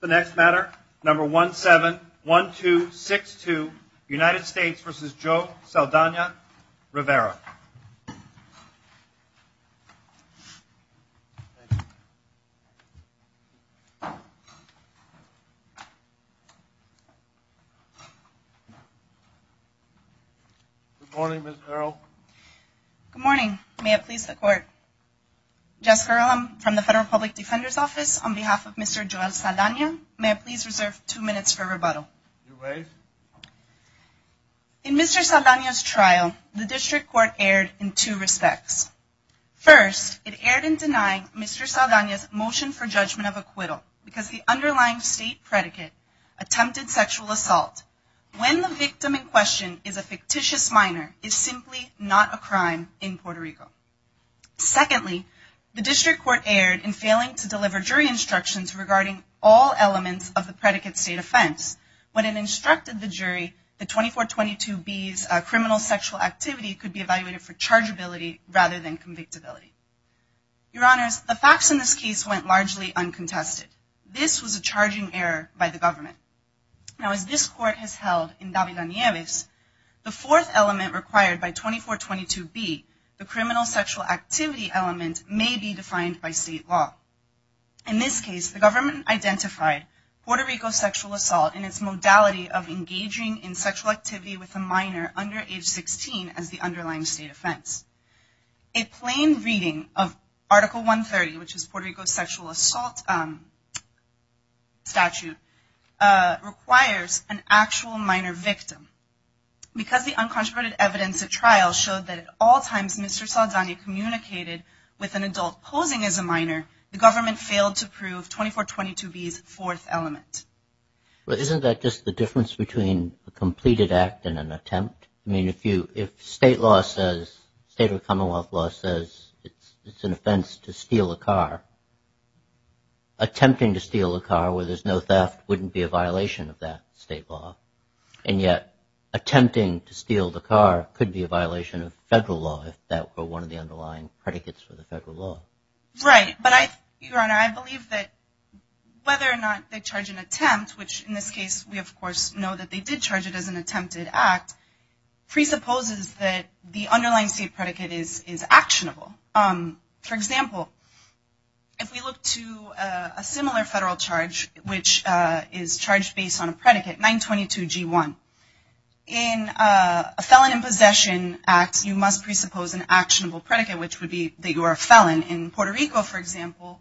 The next matter, number 171262, United States v. Joe Saldana-Rivera. Good morning, Ms. Harrell. Good morning. May it please the Court. Jessica Harrell, I'm from the Federal Public Defender's Office. On behalf of Mr. Joe Saldana, may I please reserve two minutes for rebuttal? You may. In Mr. Saldana's trial, the District Court erred in two respects. First, it erred in denying Mr. Saldana's motion for judgment of acquittal because the underlying state predicate, attempted sexual assault, when the victim in question is a fictitious minor, is simply not a crime in Puerto Rico. Secondly, the District Court erred in failing to deliver jury instructions regarding all elements of the predicate state offense. When it instructed the jury that 2422B's criminal sexual activity could be evaluated for chargeability rather than convictability. Your Honors, the facts in this case went largely uncontested. This was a charging error by the government. Now as this Court has held in David-Danieves, the fourth element required by 2422B, the criminal sexual activity element, may be defined by state law. In this case, the government identified Puerto Rico sexual assault in its modality of engaging in sexual activity with a minor under age 16 as the underlying state offense. A plain reading of Article 130, which is Puerto Rico's sexual assault statute, requires an actual minor victim. Because the uncontroverted evidence at trial showed that at all times Mr. Saldana communicated with an adult posing as a minor, the government failed to prove 2422B's fourth element. Isn't that just the difference between a completed act and an attempt? I mean, if state law says, state or commonwealth law says it's an offense to steal a car, attempting to steal a car where there's no theft wouldn't be a violation of that state law. And yet, attempting to steal the car could be a violation of federal law if that were one of the underlying predicates for the federal law. Right, but Your Honor, I believe that whether or not they charge an attempt, which in this case we of course know that they did charge it as an attempted act, presupposes that the underlying state predicate is actionable. For example, if we look to a similar federal charge which is charged based on a predicate, 922G1, in a Felon in Possession Act, you must know that in Puerto Rico, for example,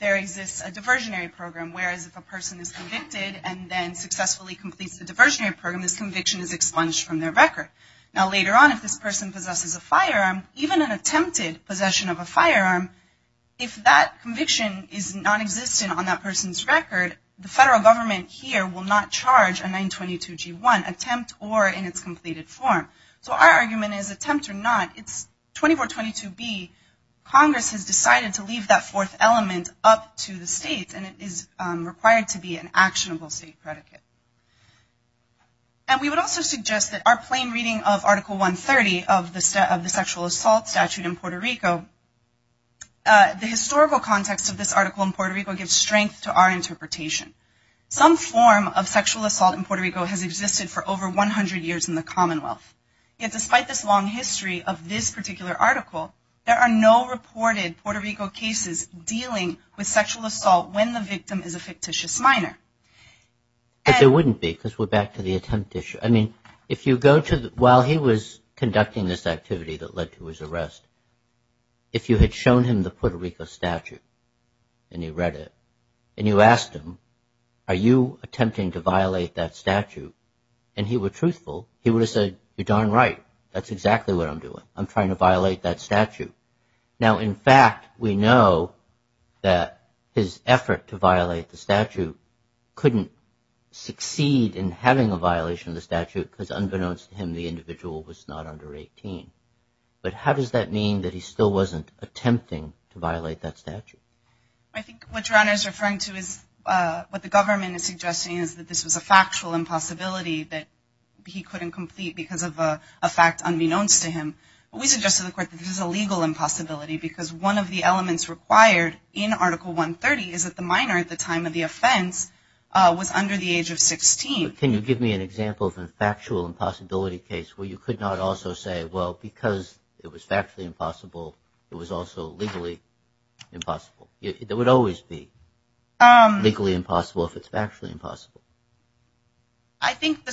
there exists a diversionary program, whereas if a person is convicted and then successfully completes the diversionary program, this conviction is expunged from their record. Now later on, if this person possesses a firearm, even an attempted possession of a firearm, if that conviction is nonexistent on that person's record, the federal government here will not charge a 922G1, attempt or in its completed form. So our argument is attempt or not, it's 2422B, Congress has decided to leave that fourth element up to the states and it is required to be an actionable state predicate. And we would also suggest that our plain reading of Article 130 of the Sexual Assault Statute in Puerto Rico, the historical context of this article in Puerto Rico gives strength to our interpretation. Some form of sexual assault in Puerto Rico has existed for over 100 years in the Commonwealth. Yet despite this long history of this particular article, there are no reported Puerto Rico cases dealing with sexual assault when the victim is a fictitious minor. But there wouldn't be, because we're back to the attempt issue. I mean, if you go to the, while he was conducting this activity that led to his arrest, if you had shown him the Puerto Rico statute and you read it, and you asked him, are you attempting to violate that statute, and he were truthful, he would have said, you're darn right. That's exactly what I'm doing. I'm trying to violate that statute. Now, in fact, we know that his effort to violate the statute couldn't succeed in having a violation of the statute because unbeknownst to him, the individual was not under 18. But how does that mean that he still wasn't attempting to violate that statute? I think what John is referring to is what the government is suggesting is that this was a factual impossibility that he couldn't complete because of a fact unbeknownst to him. We suggested to the court that this is a legal impossibility because one of the elements required in Article 130 is that the minor at the time of the offense was under the age of 16. But can you give me an example of a factual impossibility case where you could not also say, well, because it was factually impossible, it was also legally impossible? It would always be legally impossible if it's factually impossible. I think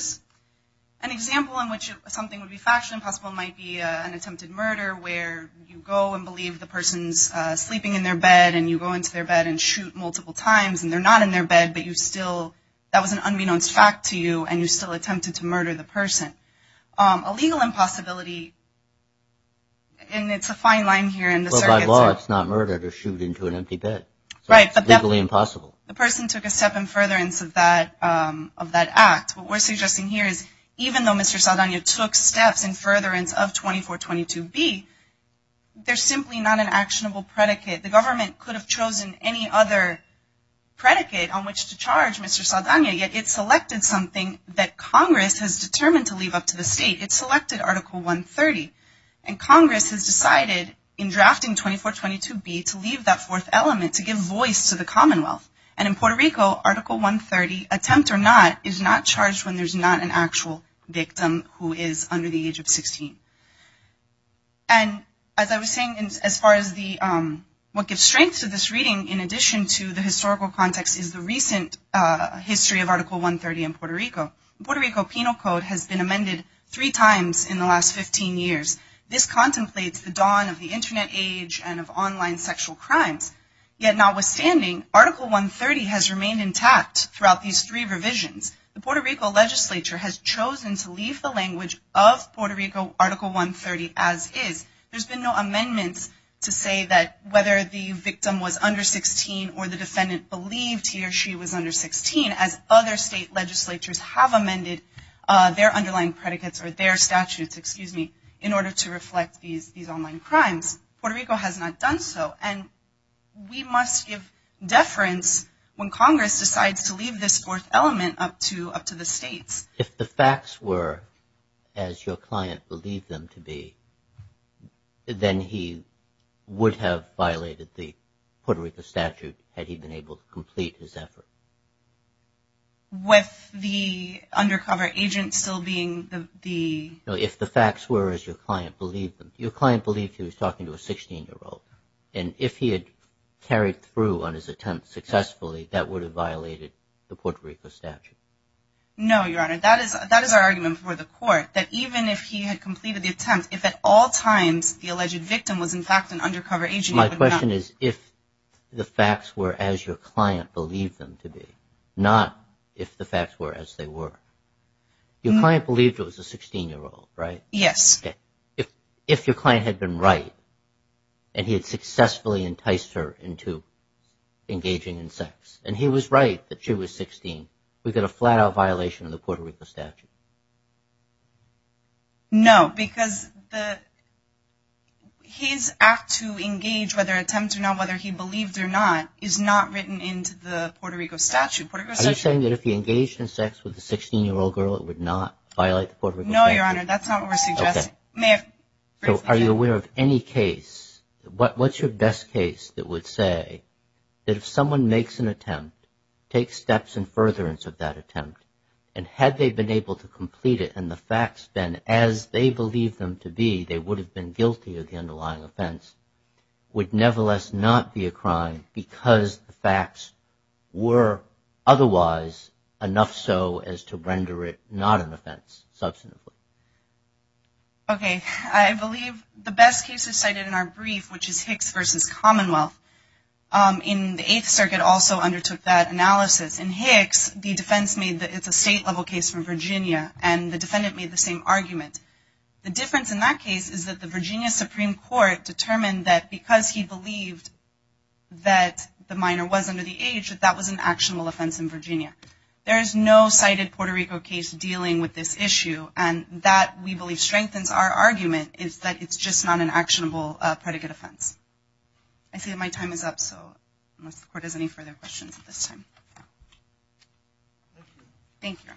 an example in which something would be factually impossible might be an attempted murder where you go and believe the person's sleeping in their bed and you go into their bed and shoot multiple times and they're not in their bed, but you still, that was an unbeknownst fact to you and you still attempted to murder the person. A legal impossibility, and it's a fine line here in the circuit, sir. Well, by law, it's not murder to shoot into an empty bed. Right. So it's legally impossible. The person took a step in furtherance of that act. What we're suggesting here is even though Mr. Saldana took steps in furtherance of 2422B, they're simply not an actionable predicate. The government could have chosen any other predicate on which to charge Mr. Saldana, yet it selected something that Congress has determined to leave up to the state. It selected Article 130, and Congress has decided in drafting 2422B to leave that fourth element, to give voice to the Commonwealth. And in Puerto Rico, Article 130, attempt or not, is not charged when there's not an actual victim who is under the age of 16. And as I was saying, as far as the, what gives strength to this reading in addition to the historical context is the recent history of Article 130 in Puerto Rico. Puerto Rico Penal Code has been amended three times in the last 15 years. This contemplates the dawn of the outstanding Article 130 has remained intact throughout these three revisions. The Puerto Rico legislature has chosen to leave the language of Puerto Rico Article 130 as is. There's been no amendments to say that whether the victim was under 16 or the defendant believed he or she was under 16, as other state legislatures have amended their underlying predicates or their statutes, excuse me, in order to reflect these online crimes. Puerto Rico has not done so, and we must give deference when Congress decides to leave this fourth element up to the states. If the facts were as your client believed them to be, then he would have violated the Puerto Rico statute had he been able to complete his effort. With the undercover agent still being the... If the facts were as your client believed them. Your client believed he was talking to a 16-year-old, and if he had carried through on his attempt successfully, that would have violated the Puerto Rico statute. No, Your Honor. That is our argument before the court, that even if he had completed the attempt, if at all times the alleged victim was in fact an undercover agent... My question is if the facts were as your client believed them to be, not if the facts were as they were. Your client believed it was a 16-year-old, right? Yes. Okay. If your client had been right, and he had successfully enticed her into engaging in sex, and he was right that she was 16, we get a flat-out violation of the Puerto Rico statute. No, because his act to engage, whether attempt or not, whether he believed or not, is not written into the Puerto Rico statute. Are you saying that if he engaged in sex with a 16-year-old girl, it would not violate the Puerto Rico statute? No, Your Honor. That's not what we're suggesting. Okay. Are you aware of any case, what's your best case that would say that if someone makes an attempt, takes steps in furtherance of that attempt, and had they been able to complete it and the facts been as they believed them to be, they would have been guilty of the underlying offense, would nevertheless not be a crime because the facts were otherwise enough so as to render it not an offense, substantively? Okay. I believe the best case is cited in our brief, which is Hicks v. Commonwealth. In the Eighth Circuit, also undertook that analysis. In Hicks, the defense made that it's a state-level case from Virginia, and the defendant made the same argument. The difference in that case is that the Virginia Supreme Court determined that because he believed that the minor was under the age, that that was an actionable offense in Virginia. There is no cited Puerto Rico case dealing with this issue, and that, we believe, strengthens our argument, is that it's just not an actionable predicate offense. I see that my time is up, so unless the Court has any further questions at this time. Thank you.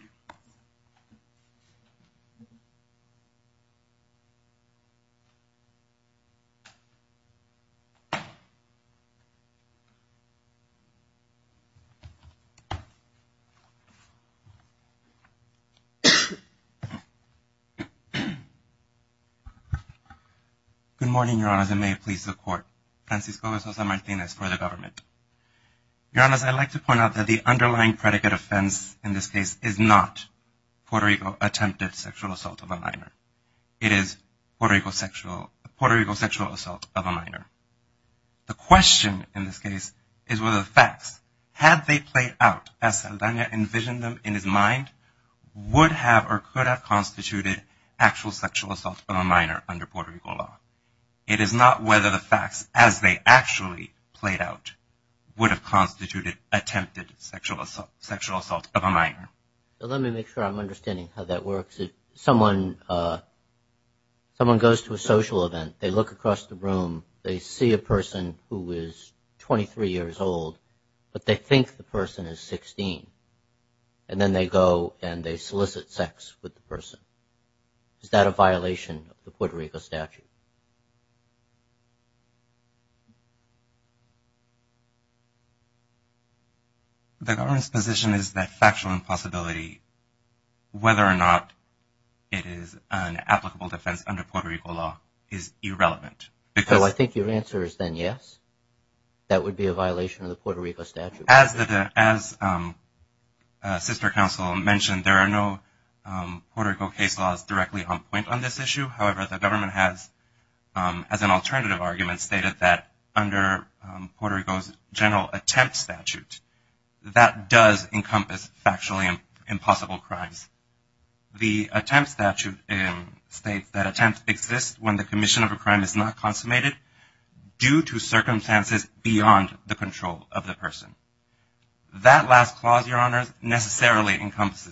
Good morning, Your Honors, and may it please the Court. Francisco de Sousa Martinez for the Government. Your Honors, I'd like to point out that the underlying predicate offense in this case is not Puerto Rico attempted sexual assault of a minor. It is Puerto Rico sexual assault of a minor. The question in this case is whether the facts, had they played out as Saldana envisioned them in his mind, would have or could have constituted actual sexual assault of a minor under Puerto Rico law. It is not whether the facts, as they actually played out, would have constituted attempted sexual assault of a minor. Let me make sure I'm understanding how that works. If someone goes to a social event, they look across the room, they see a person who is 23 years old, but they think the person is 16, and then they go and they solicit sex with the person. Is that a violation of the Puerto Rico statute? The Government's position is that factual impossibility, whether or not it is an applicable defense under Puerto Rico law, is irrelevant. So I think your answer is then yes, that would be a violation of the Puerto Rico statute. As Sister Counsel mentioned, there are no Puerto Rico case laws directly on point on this issue. However, the Government has, as an alternative argument, stated that under Puerto Rico's general attempt statute, that does encompass factually impossible crimes. The attempt statute states that attempts exist when the commission of a crime is not consummated due to circumstances beyond the control of the person. That last clause, Your Honors, does not necessarily encompass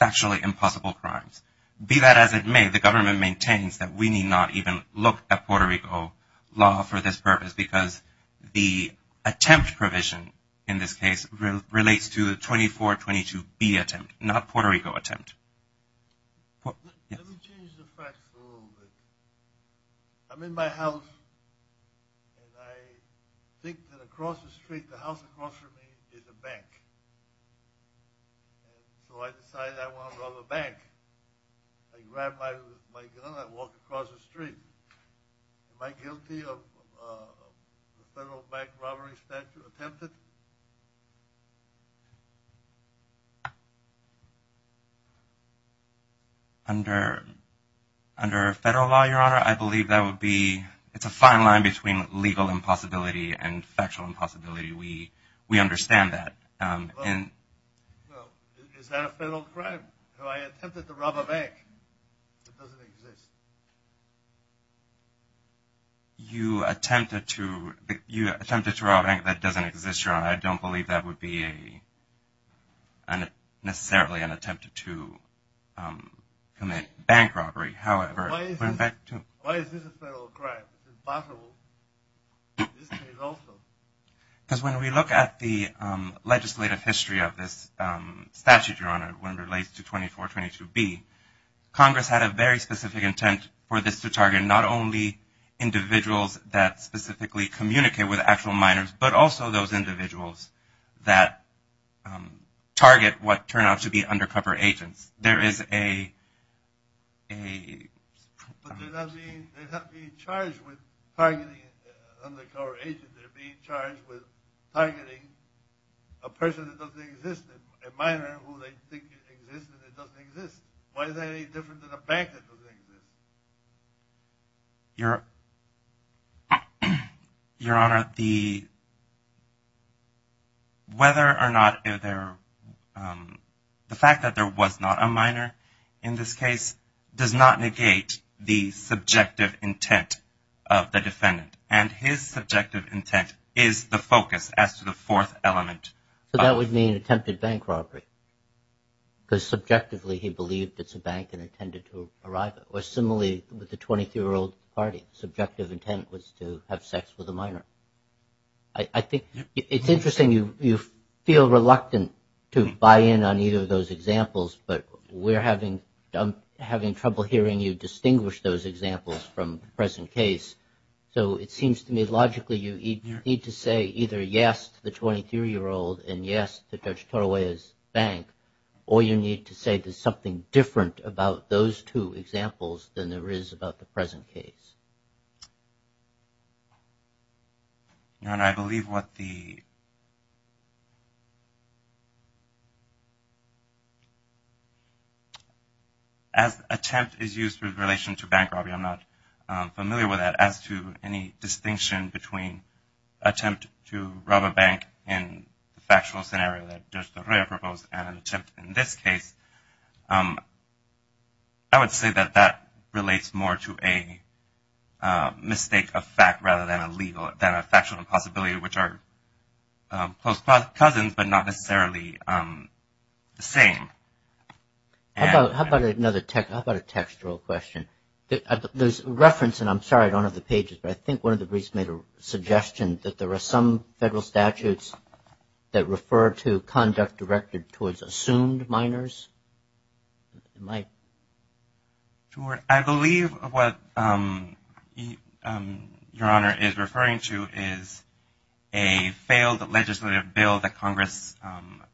factually impossible crimes. Be that as it may, the Government maintains that we need not even look at Puerto Rico law for this purpose, because the attempt provision in this case relates to the 2422B attempt, not Puerto Rico attempt. Let me change the facts a little bit. I'm in my house, and I think that across the street, the house across from me is a bank. So I decided I wanted to rob a bank. I grabbed my gun and I walked across the street. Am I guilty of a federal bank robbery statute attempted? Under federal law, Your Honor, I believe that would be, it's a fine line between legal impossibility and factual impossibility. We understand that. Well, is that a federal crime? Do I attempt to rob a bank that doesn't exist? You attempted to rob a bank that doesn't exist, Your Honor. I don't believe that would be a, necessarily an attempt to commit bank robbery. However... Why is this a federal crime? It's impossible. This case also. Because when we look at the legislative history of this statute, Your Honor, when it relates to 2422B, Congress had a very specific intent for this to target not only individuals that specifically communicate with actual minors, but also those individuals that target what a... But they're not being charged with targeting undercover agents. They're being charged with targeting a person that doesn't exist, a minor who they think exists and doesn't exist. Why is that any different than a bank that doesn't exist? Your Honor, the, whether or not if there, the fact that there was not a minor in this case does not negate the subjective intent of the defendant. And his subjective intent is the focus as to the fourth element. So that would mean attempted bank robbery. Because subjectively he believed it's a bank and intended to arrive at it. Or similarly with the 23-year-old party, subjective intent was to have sex with a minor. I think it's a little reluctant to buy in on either of those examples, but we're having, I'm having trouble hearing you distinguish those examples from the present case. So it seems to me logically you need to say either yes to the 23-year-old and yes to Judge Torawaya's bank, or you need to say there's something different about those two examples than there is about the present case. Your Honor, I believe what the, as attempt is used with relation to bank robbery, I'm not familiar with that, as to any distinction between attempt to rob a bank in the factual scenario that Judge Torawaya proposed and an attempt in this case. I would say that that relates more to a mistake of fact rather than a legal, than a factual impossibility which are close cousins but not necessarily the same. How about another, how about a textual question? There's reference, and I'm sorry I don't have the pages, but I think one of the briefs made a suggestion that there are some federal statutes that refer to conduct directed towards assumed minors. I believe what Your Honor is referring to is a failed legislative bill that Congress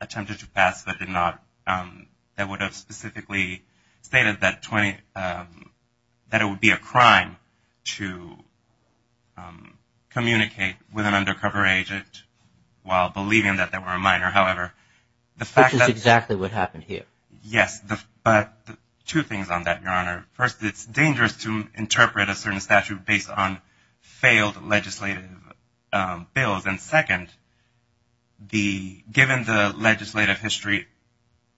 attempted to pass but did not, that would have specifically stated that 20, that it would be a crime to communicate with an undercover agent while believing that they were a minor. However, the fact that... Which is exactly what happened here. Yes, but two things on that, Your Honor. First, it's dangerous to interpret a certain statute based on failed legislative bills, and second, the, given the legislative history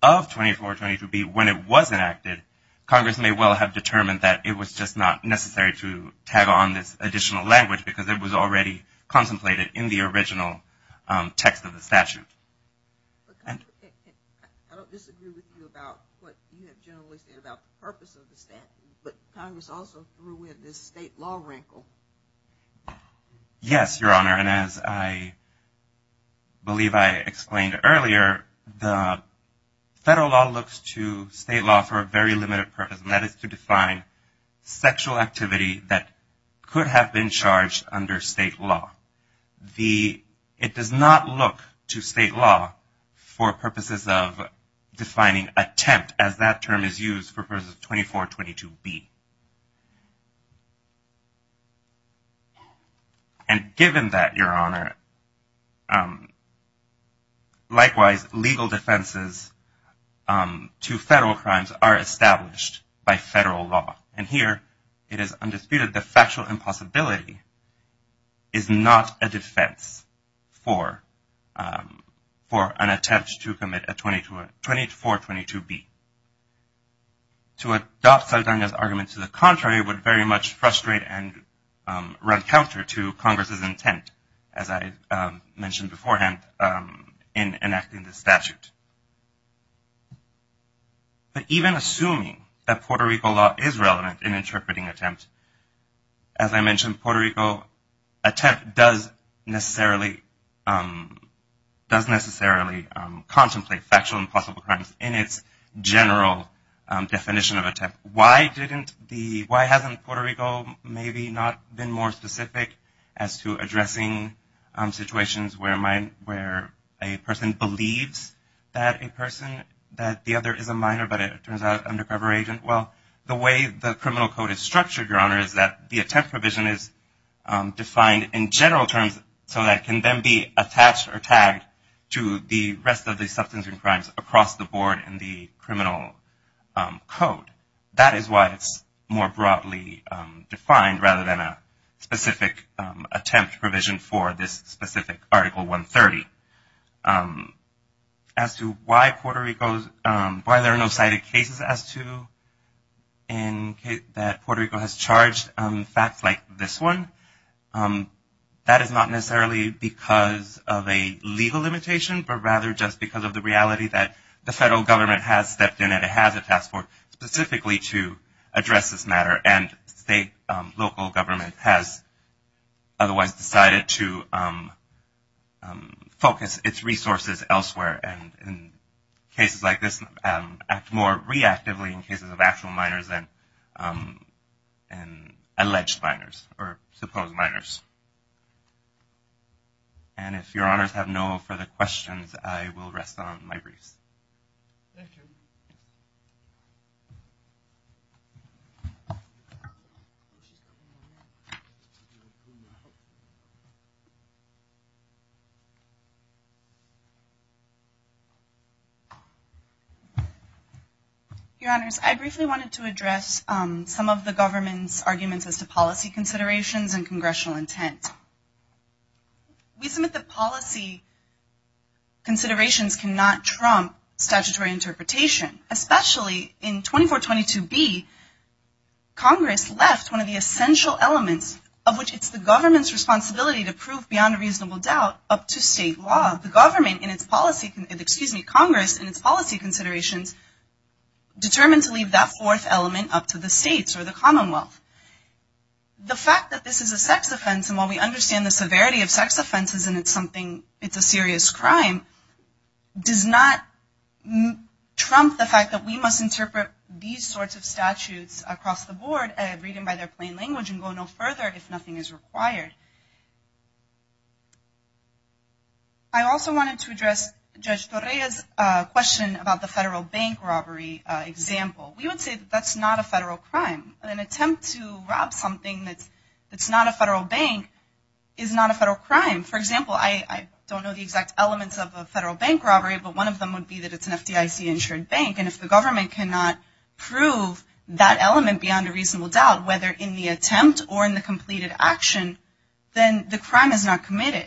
of 2422B when it was enacted, Congress may well have determined that it was just not necessary to tag on this additional language because it was already contemplated in the original text of the statute. I don't disagree with you about what you have generally said about the purpose of the statute, but Congress also threw in this state law wrinkle. Yes, Your Honor, and as I believe I explained earlier, the federal law looks to the state law for a very limited purpose, and that is to define sexual activity that could have been charged under state law. The, it does not look to state law for purposes of defining attempt, as that term is used for purposes of 2422B. And given that, Your Honor, likewise, legal defenses to femicide and other crimes are established by federal law, and here it is undisputed the factual impossibility is not a defense for an attempt to commit a 2422B. To adopt Saldana's argument to the contrary would very much frustrate and run counter to Congress's intent, as I mentioned beforehand, in enacting the statute. But even assuming that Puerto Rico law is relevant in interpreting attempt, as I mentioned, Puerto Rico attempt does necessarily contemplate factual impossible crimes in its general definition of attempt. Why didn't the, why hasn't Puerto Rico maybe not been more specific as to addressing situations where a person believes that a person, that the other is a minor but a minor undercover agent? Well, the way the criminal code is structured, Your Honor, is that the attempt provision is defined in general terms so that it can then be attached or tagged to the rest of the substance and crimes across the board in the criminal code. That is why it's more broadly defined rather than a specific attempt provision for this specific Article 130. And as to why Puerto Rico's, why there are no cited cases as to, that Puerto Rico has charged facts like this one, that is not necessarily because of a legal limitation, but rather just because of the reality that the federal government has stepped in and it has a task force specifically to address this matter and state, local government has otherwise decided to focus its resources elsewhere and in cases like this, act more reactively in cases of actual minors than alleged minors or supposed minors. And if Your Honors have no further questions, I will rest on my wreaths. Thank you. Your Honors, I briefly wanted to address some of the government's arguments as to policy considerations and congressional intent. We submit that policy considerations cannot trump statutory interpretation, especially in 2422B, Congress left one of the essential elements of which it's the government's responsibility to prove beyond a reasonable doubt up to state law. The government in its policy, excuse me, Congress in its policy considerations determined to leave that fourth element up to the states or the commonwealth. The fact that this is a sex offense and while we understand the severity of sex offenses and it's something, it's a serious crime, does not trump the fact that we must interpret these sorts of statutes across the board and read them by their plain language and go no further. I also wanted to address Judge Correa's question about the federal bank robbery example. We would say that that's not a federal crime. An attempt to rob something that's not a federal bank is not a federal crime. For example, I don't know the exact elements of a federal bank robbery, but one of them would be that it's an FDIC insured bank and if the government cannot prove that element beyond a reasonable doubt, whether in the attempt or in the completed action, then the crime is not committed.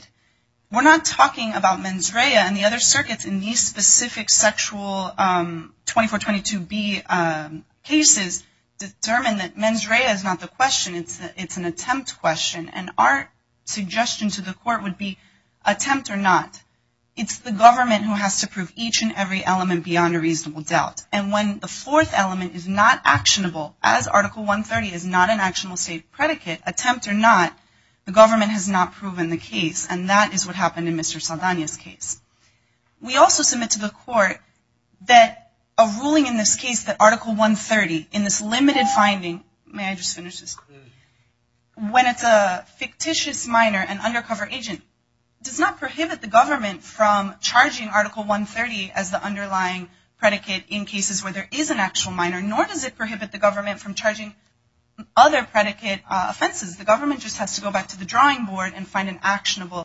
We're not talking about mens rea and the other circuits in these specific sexual 2422B cases determine that mens rea is not the question. It's an attempt question and our suggestion to the court would be attempt or not. It's the government who has to prove each and every element beyond a reasonable doubt. And when the fourth element is not actionable, as Article 130 is not an actionable state predicate, attempt or not, the government has not proven the case. And that is what happened in Mr. Saldana's case. We also submit to the court that a ruling in this case, that Article 130, in this limited finding, may I just finish this? When it's a fictitious minor, an undercover agent, does not prohibit the government from charging the underlying predicate in cases where there is an actual minor, nor does it prohibit the government from charging other predicate offenses. The government just has to go back to the drawing board and find an actionable predicate.